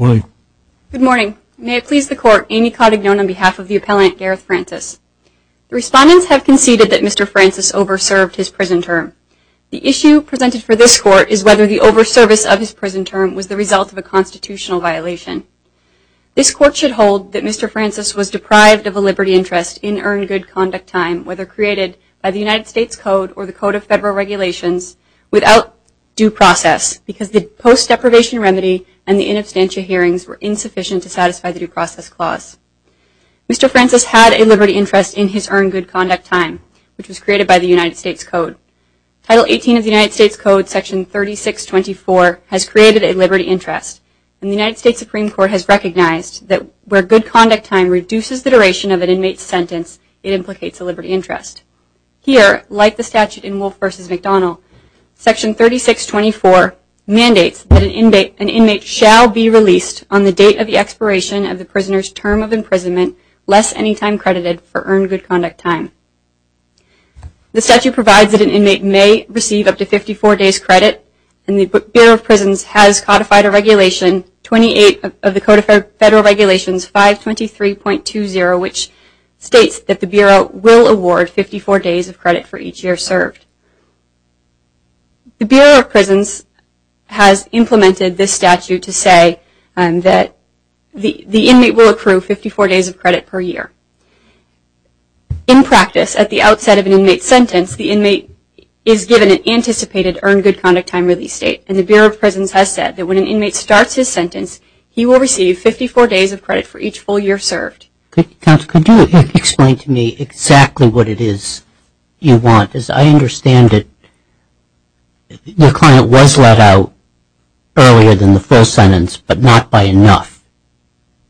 Good morning. May it please the Court, Amy Codd-Ignone on behalf of the Appellant Gareth Francis. The respondents have conceded that Mr. Francis over-served his prison term. The issue presented for this Court is whether the over-service of his prison term was the result of a constitutional violation. This Court should hold that Mr. Francis was deprived of a liberty interest in earned good conduct time, whether created by the United States Code or the Code of Federal Regulations, without due process, because the post-deprivation remedy and the in-abstantia hearings were insufficient to satisfy the due process clause. Mr. Francis had a liberty interest in his earned good conduct time, which was created by the United States Code. Title 18 of the United States Code, Section 3624, has created a liberty interest, and the United States Supreme Court has recognized that where good conduct time reduces the duration of an inmate's sentence, it implicates a liberty interest. Here, like the statute in Wolf v. McDonnell, Section 3624 mandates that an inmate shall be released on the date of the expiration of the prisoner's term of imprisonment less any time credited for earned good conduct time. The statute provides that an inmate may receive up to 54 days credit, and the Bureau of Prisons has codified a regulation, 28 of the Code of Federal Regulations, 523.20, which states that the Bureau will award 54 days of credit for each year served. The Bureau of Prisons has implemented this statute to say that the inmate will accrue 54 days of credit per year. In practice, at the outset of an inmate's sentence, the inmate is given an anticipated earned good conduct time release date, and the Bureau of Prisons has said that when an inmate starts his sentence, he will receive 54 days of credit for each full year served. Could you explain to me exactly what it is you want? As I understand it, the client was let out earlier than the full sentence, but not by enough.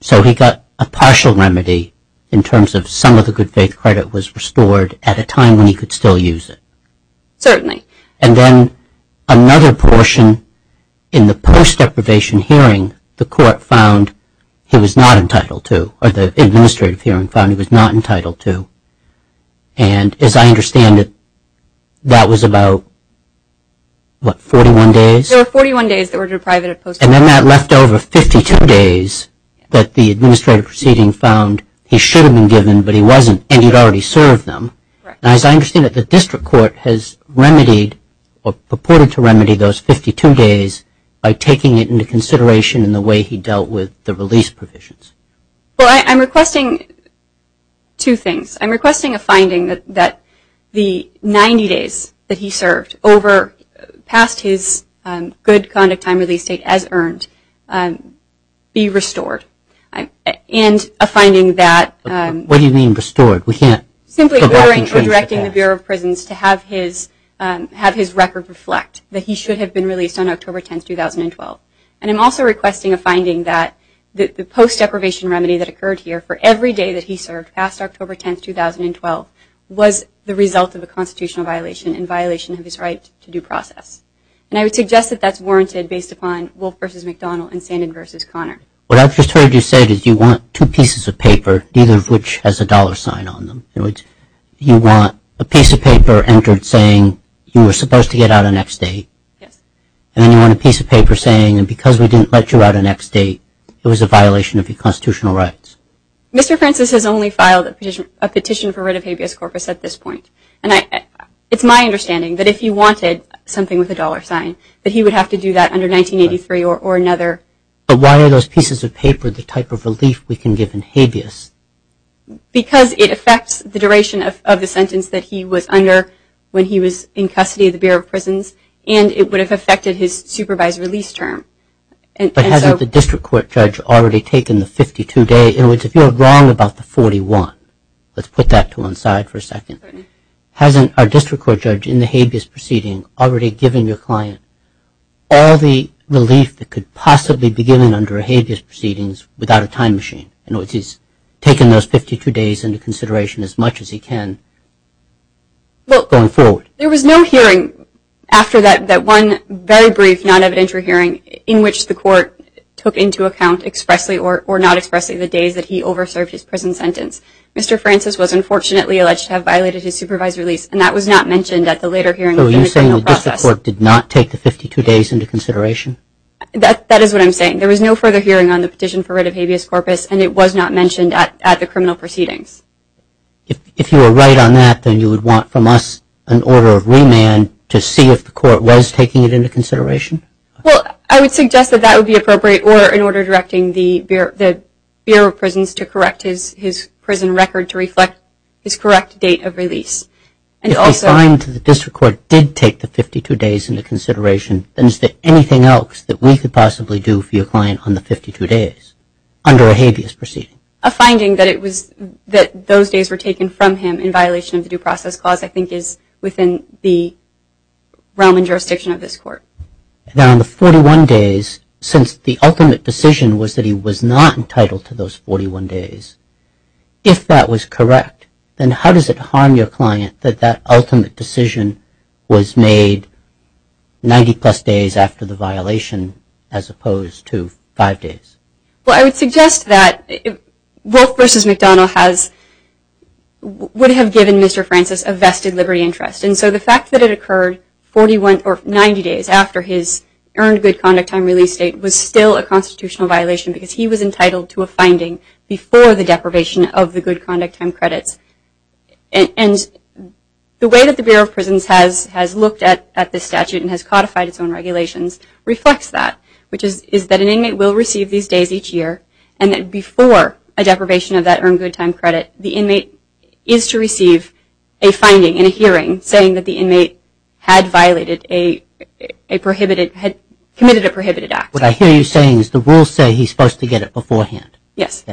So he got a partial remedy in terms of some of the good faith credit was restored at a time when he could still use it. Certainly. And then another portion in the post-deprivation hearing, the court found he was not entitled to, or the administrative hearing found he was not entitled to. And as I understand it, that was about, what, 41 days? There were 41 days that were deprived of post-deprivation. And then that left over 52 days that the administrative proceeding found he should have been given, but he wasn't, and he'd already served them. Correct. And as I understand it, the district court has remedied, or purported to remedy, those 52 days by taking it into consideration in the way he dealt with the release provisions. Well, I'm requesting two things. I'm requesting a finding that the 90 days that he served over past his good conduct time release date, as earned, be restored. And a finding that What do you mean restored? We can't go back and change that. the Bureau of Prisons to have his record reflect that he should have been released on October 10th, 2012. And I'm also requesting a finding that the post-deprivation remedy that occurred here for every day that he served past October 10th, 2012 was the result of a constitutional violation in violation of his right to due process. And I would suggest that that's warranted based upon Wolf v. McDonnell and Sandin v. Conner. What I've just heard you say is you want two pieces of paper, neither of which has a dollar sign on them. You want a piece of paper entered saying you were supposed to get out on X date. Yes. And then you want a piece of paper saying, because we didn't let you out on X date, it was a violation of your constitutional rights. Mr. Francis has only filed a petition for writ of habeas corpus at this point. And it's my understanding that if he wanted something with a dollar sign, that he would have to do that under 1983 or another. But why are those pieces of paper the type of relief we can give in habeas? Because it affects the duration of the sentence that he was under when he was in custody of the Bureau of Prisons, and it would have affected his supervised release term. But hasn't the district court judge already taken the 52-day? In other words, if you're wrong about the 41, let's put that to one side for a second. Hasn't our district court judge in the habeas proceeding already given your client all the relief that could possibly be given under a habeas proceedings without a time machine? In other words, he's taken those 52 days into consideration as much as he can going forward. There was no hearing after that one very brief non-evidentiary hearing in which the court took into account expressly or not expressly the days that he over-served his prison sentence. Mr. Francis was unfortunately alleged to have violated his supervised release, and that was not mentioned at the later hearing of the criminal process. So are you saying that the district court did not take the 52 days into consideration? That is what I'm saying. There was no further hearing on the petition for writ of habeas corpus, and it was not mentioned at the criminal proceedings. If you were right on that, then you would want from us an order of remand to see if the court was taking it into consideration? Well, I would suggest that that would be appropriate, or an order directing the Bureau of Prisons to correct his prison record to reflect his correct date of release. If they find that the district court did take the 52 days into consideration, then is there anything else that we could possibly do for your client on the 52 days? Under a habeas proceeding. A finding that it was that those days were taken from him in violation of the Due Process Clause I think is within the realm and jurisdiction of this court. Now on the 41 days, since the ultimate decision was that he was not entitled to those 41 days, if that was correct, then how does it harm your client that that ultimate decision was made 90 plus days after the violation as opposed to five days? Well, I would suggest that Wolf v. McDonnell would have given Mr. Francis a vested liberty interest. And so the fact that it occurred 90 days after his earned good conduct time release date was still a constitutional violation because he was entitled to a finding before the deprivation of the good conduct time credits. And the way that the Bureau of Prisons has looked at this statute and has codified its own regulations reflects that, which is that an inmate will receive these days each year and that before a deprivation of that earned good time credit, the inmate is to receive a finding in a hearing saying that the inmate had violated a prohibited, had committed a prohibited act. What I hear you saying is the rules say he's supposed to get it beforehand. Yes.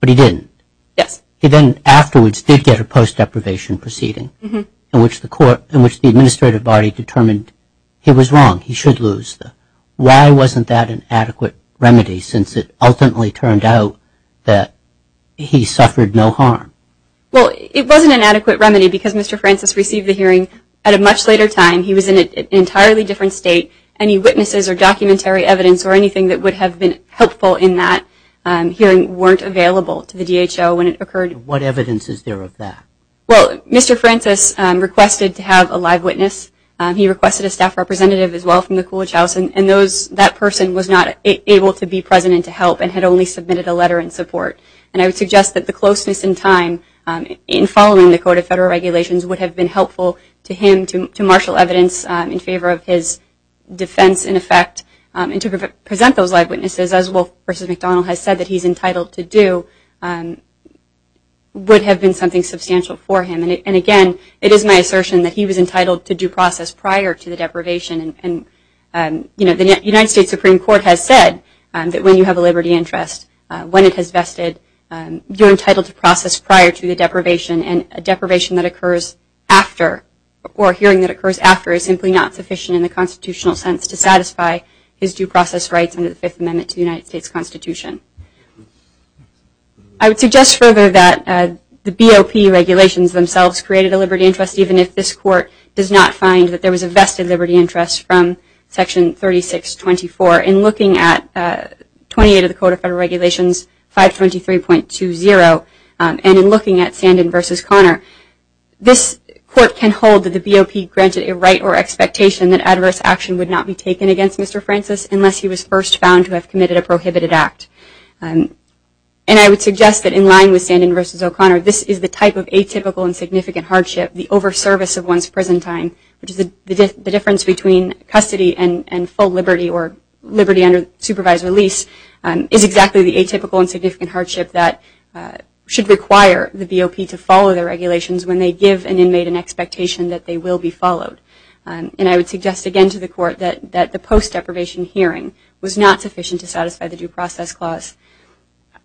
But he didn't. Yes. He then afterwards did get a post-deprivation proceeding in which the court, in which the administrative body determined he was wrong, he should lose. Why wasn't that an adequate remedy since it ultimately turned out that he suffered no harm? Well, it wasn't an adequate remedy because Mr. Francis received the hearing at a much later time. He was in an entirely different state. Any witnesses or documentary evidence or anything that would have been helpful in that hearing weren't available to the DHO when it occurred. What evidence is there of that? Well, Mr. Francis requested to have a live witness. He requested a staff representative as well from the Coolidge House and that person was not able to be present and to help and had only submitted a letter in support. And I would suggest that the closeness in time in following the Code of Federal Regulations would have been helpful to him to marshal evidence in favor of his defense in effect and to present those live witnesses as Wolf versus McDonnell has said that he's entitled to do would have been something substantial for him. And again, it is my assertion that he was entitled to due process prior to the deprivation and the United States Supreme Court has said that when you have a liberty interest, when it has vested, you're entitled to process prior to the deprivation and a deprivation that occurs after or a hearing that occurs after is simply not sufficient in the constitutional sense to satisfy his due process rights under the Fifth Amendment to the United States Constitution. I would suggest further that the BOP regulations themselves created a liberty interest even if this Court does not find that there was a vested liberty interest from Section 3624. In looking at 28 of the Code of Federal Regulations, 523.20, and in looking at Sandin versus Connor, this Court can hold that the BOP granted a right or expectation that adverse action would not be taken against Mr. Francis unless he was first found to have committed a prohibited act. And I would suggest that in line with Sandin versus O'Connor, this is the type of atypical and significant hardship, the over-service of one's prison time, which is the difference between custody and full liberty or liberty under supervised release, is exactly the atypical and significant hardship that should require the BOP to follow the regulations when they give an inmate an expectation that they will be followed. And I would suggest again to the Court that the post-deprivation hearing was not sufficient to satisfy the Due Process Clause.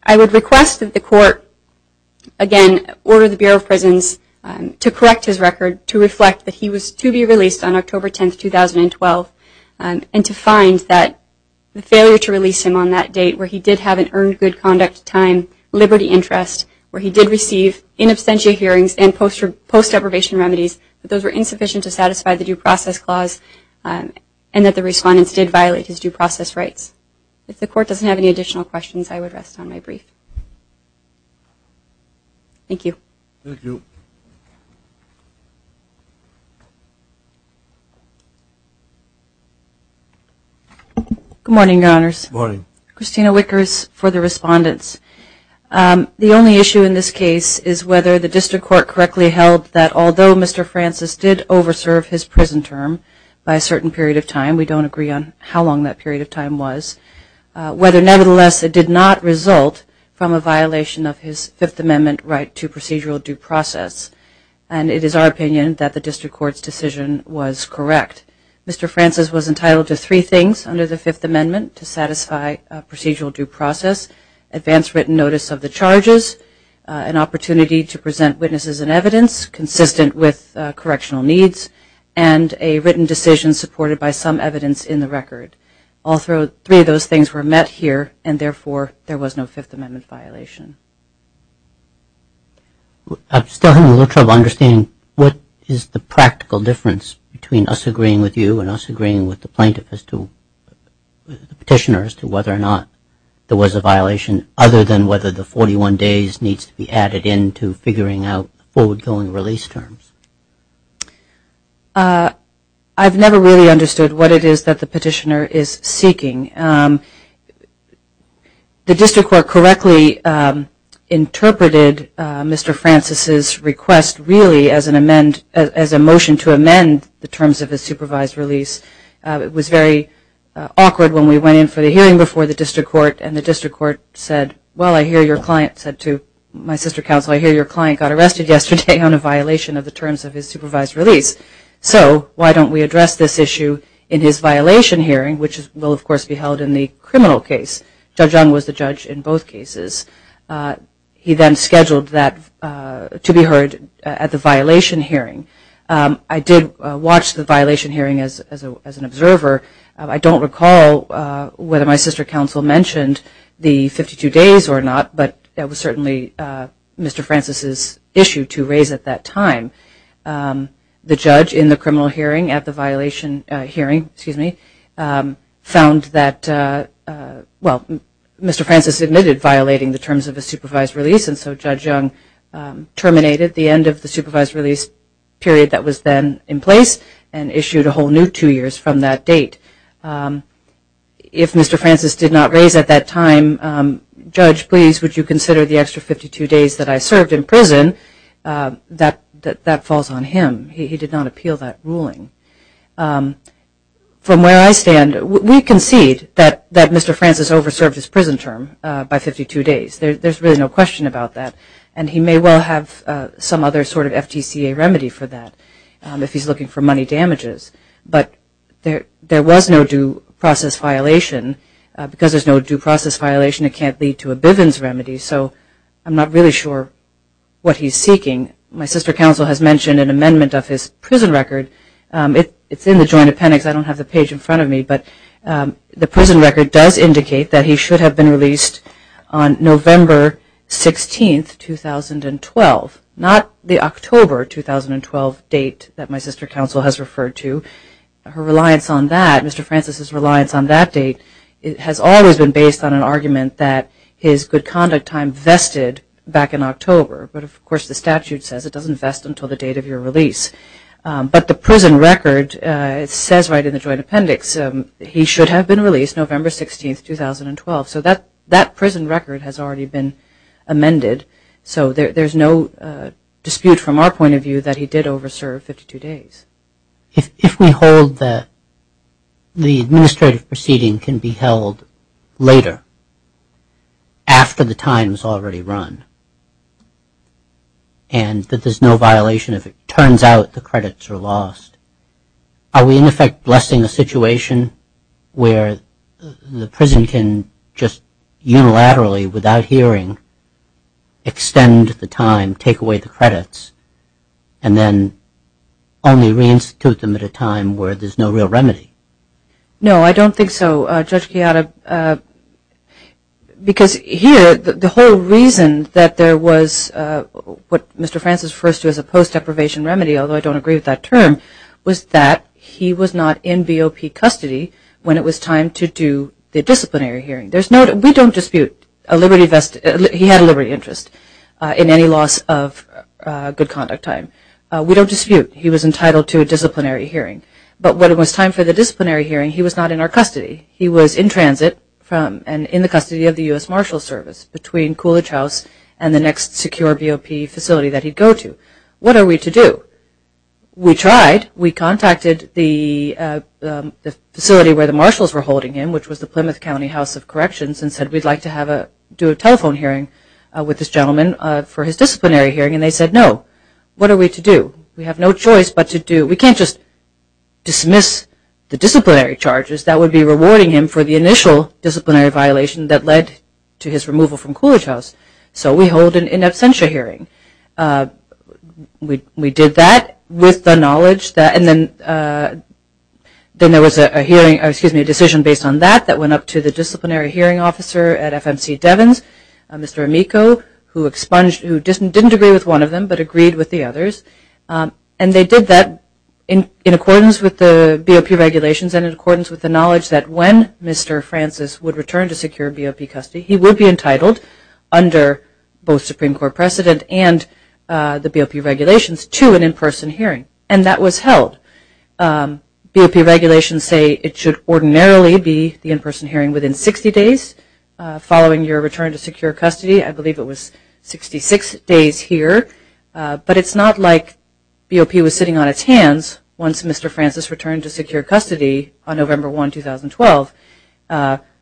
I would request that the Court, again, order the Bureau of Prisons to correct his record to reflect that he was to be released on October 10, 2012 and to find that the failure to release him on that date where he did have an earned good conduct time liberty interest, where he did receive in absentia hearings and post-deprivation remedies, that those were insufficient to satisfy the Due Process Clause and that the respondents did violate his due process rights. If the Court doesn't have any additional questions, I would rest on my brief. Thank you. Good morning, Your Honors. Good morning. Christina Wickers for the respondents. The only issue in this case is whether the District Court, Mr. Francis, did over-serve his prison term by a certain period of time. We don't agree on how long that period of time was. Whether, nevertheless, it did not result from a violation of his Fifth Amendment right to procedural due process. And it is our opinion that the District Court's decision was correct. Mr. Francis was entitled to three things under the Fifth Amendment to satisfy procedural due process. Advanced written notice of the correctional needs and a written decision supported by some evidence in the record. All three of those things were met here and, therefore, there was no Fifth Amendment violation. I'm still having a little trouble understanding what is the practical difference between us agreeing with you and us agreeing with the plaintiff as to the petitioner as to whether or not there was a violation other than whether the 41 days needs to be added in to figuring out forward-going release terms. I've never really understood what it is that the petitioner is seeking. The District Court correctly interpreted Mr. Francis' request really as a motion to amend the terms of his supervised release. It was very awkward when we went in for the hearing before the District Court and the District Court said, well, I hear your client said to my sister counsel, I hear your client got arrested yesterday on a violation of the terms of his supervised release, so why don't we address this issue in his violation hearing, which will, of course, be held in the criminal case. Judge Young was the judge in both cases. He then scheduled that to be heard at the violation hearing. I did watch the violation hearing as an observer. I don't recall whether my sister counsel mentioned the 52 days or not, but it was certainly Mr. Francis' issue to raise at that time. The judge in the criminal hearing at the violation hearing, excuse me, found that, well, Mr. Francis admitted violating the terms of his supervised release, and so Judge Young terminated the end of the supervised release period that was then in place and issued a whole new two years from that date. If Mr. Francis did not raise at that time, judge, please, would you consider the extra 52 days that I served in prison, that falls on him. He did not appeal that ruling. From where I stand, we concede that Mr. Francis over-served his prison term by 52 days. There's really no question about that, and he may well have some other sort of FTCA remedy for that if he's looking for no due process violation. It can't lead to a Bivens remedy, so I'm not really sure what he's seeking. My sister counsel has mentioned an amendment of his prison record. It's in the joint appendix. I don't have the page in front of me, but the prison record does indicate that he should have been released on November 16, 2012, not the October 2012 date that my sister counsel has referred to. Her reliance on that, Mr. Francis' reliance on that date has always been based on an argument that his good conduct time vested back in October, but of course the statute says it doesn't vest until the date of your release. But the prison record says right in the joint appendix, he should have been released November 16, 2012. So that prison record has already been amended, so there's no dispute from our point of view that he did over-serve 52 days. If we hold that the administrative proceeding can be held later, after the time has already run, and that there's no violation if it turns out the credits are lost, are we in effect blessing a situation where the prison can just unilaterally, without hearing, extend the time, take away the credits, and then only reinstitute them at a time where there's no real remedy? No, I don't think so, Judge Chiara, because here the whole reason that there was what Mr. Francis first used as a post-deprivation remedy, although I don't agree with that term, was that he was not in BOP custody when it was time to do the disciplinary hearing. There's no dispute in any loss of good conduct time. We don't dispute he was entitled to a disciplinary hearing. But when it was time for the disciplinary hearing, he was not in our custody. He was in transit and in the custody of the U.S. Marshals Service between Coolidge House and the next secure BOP facility that he'd go to. What are we to do? We tried. We contacted the facility where the marshals were holding him, which was the Plymouth County House of for his disciplinary hearing, and they said, no. What are we to do? We have no choice but to do. We can't just dismiss the disciplinary charges. That would be rewarding him for the initial disciplinary violation that led to his removal from Coolidge House. So we hold an in absentia hearing. We did that with the knowledge that, and then there was a hearing, excuse me, a decision based on that that went up to the disciplinary hearing officer at who didn't agree with one of them but agreed with the others. And they did that in accordance with the BOP regulations and in accordance with the knowledge that when Mr. Francis would return to secure BOP custody, he would be entitled under both Supreme Court precedent and the BOP regulations to an in-person hearing. And that was held. BOP regulations say it should ordinarily be the in-person hearing within 60 days following your return to secure custody. I believe it was 66 days here. But it's not like BOP was sitting on its hands once Mr. Francis returned to secure custody on November 1, 2012.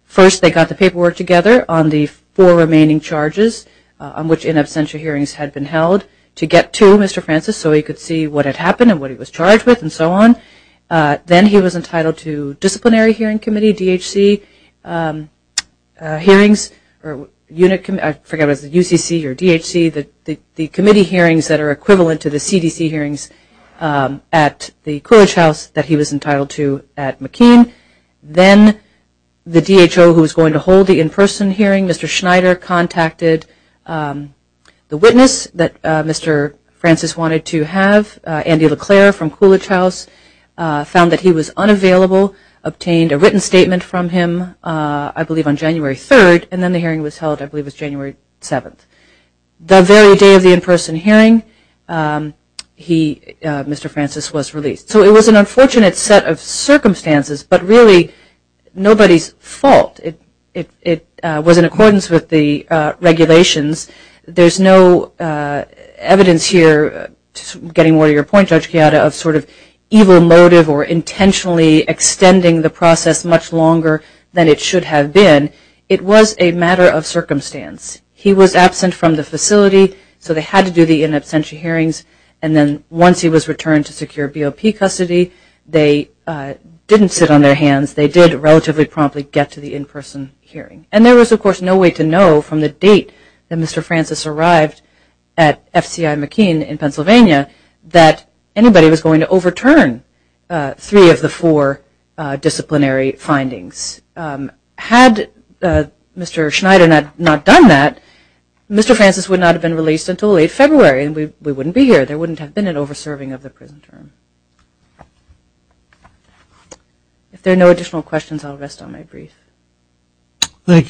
First they got the paperwork together on the four remaining charges on which in absentia hearings had been held to get to Mr. Francis so he could see what had happened and what he was charged with and so on. Then he was entitled to disciplinary hearing committee, DHC hearings, or unit committee I forget if it was UCC or DHC, the committee hearings that are equivalent to the CDC hearings at the Coolidge House that he was entitled to at McKean. Then the DHO who was going to hold the in-person hearing, Mr. Schneider, contacted the witness that Mr. Francis wanted to have, Andy LeClaire from Coolidge House, found that he was unavailable, obtained a written statement from him I believe on January 3rd, and then the hearing was held I believe it was January 7th. The very day of the in-person hearing, Mr. Francis was released. So it was an unfortunate set of circumstances, but really nobody's fault. It was in accordance with the regulations. There's no evidence here, getting more to your point Judge Chiara, of sort of evil motive or intentionally extending the process much longer than it should have been, it was a matter of circumstance. He was absent from the facility, so they had to do the in absentia hearings, and then once he was returned to secure BOP custody, they didn't sit on their hands, they did relatively promptly get to the in-person hearing. And there was of course no way to know from the date that Mr. Francis arrived at FCI McKean in Pennsylvania that anybody was going to overturn three of the four disciplinary findings. Had Mr. Schneider not done that, Mr. Francis would not have been released until late February, and we wouldn't be here. There wouldn't have been an over-serving of the prison term. If there are no additional questions, I'll rest on my brief. Thank you.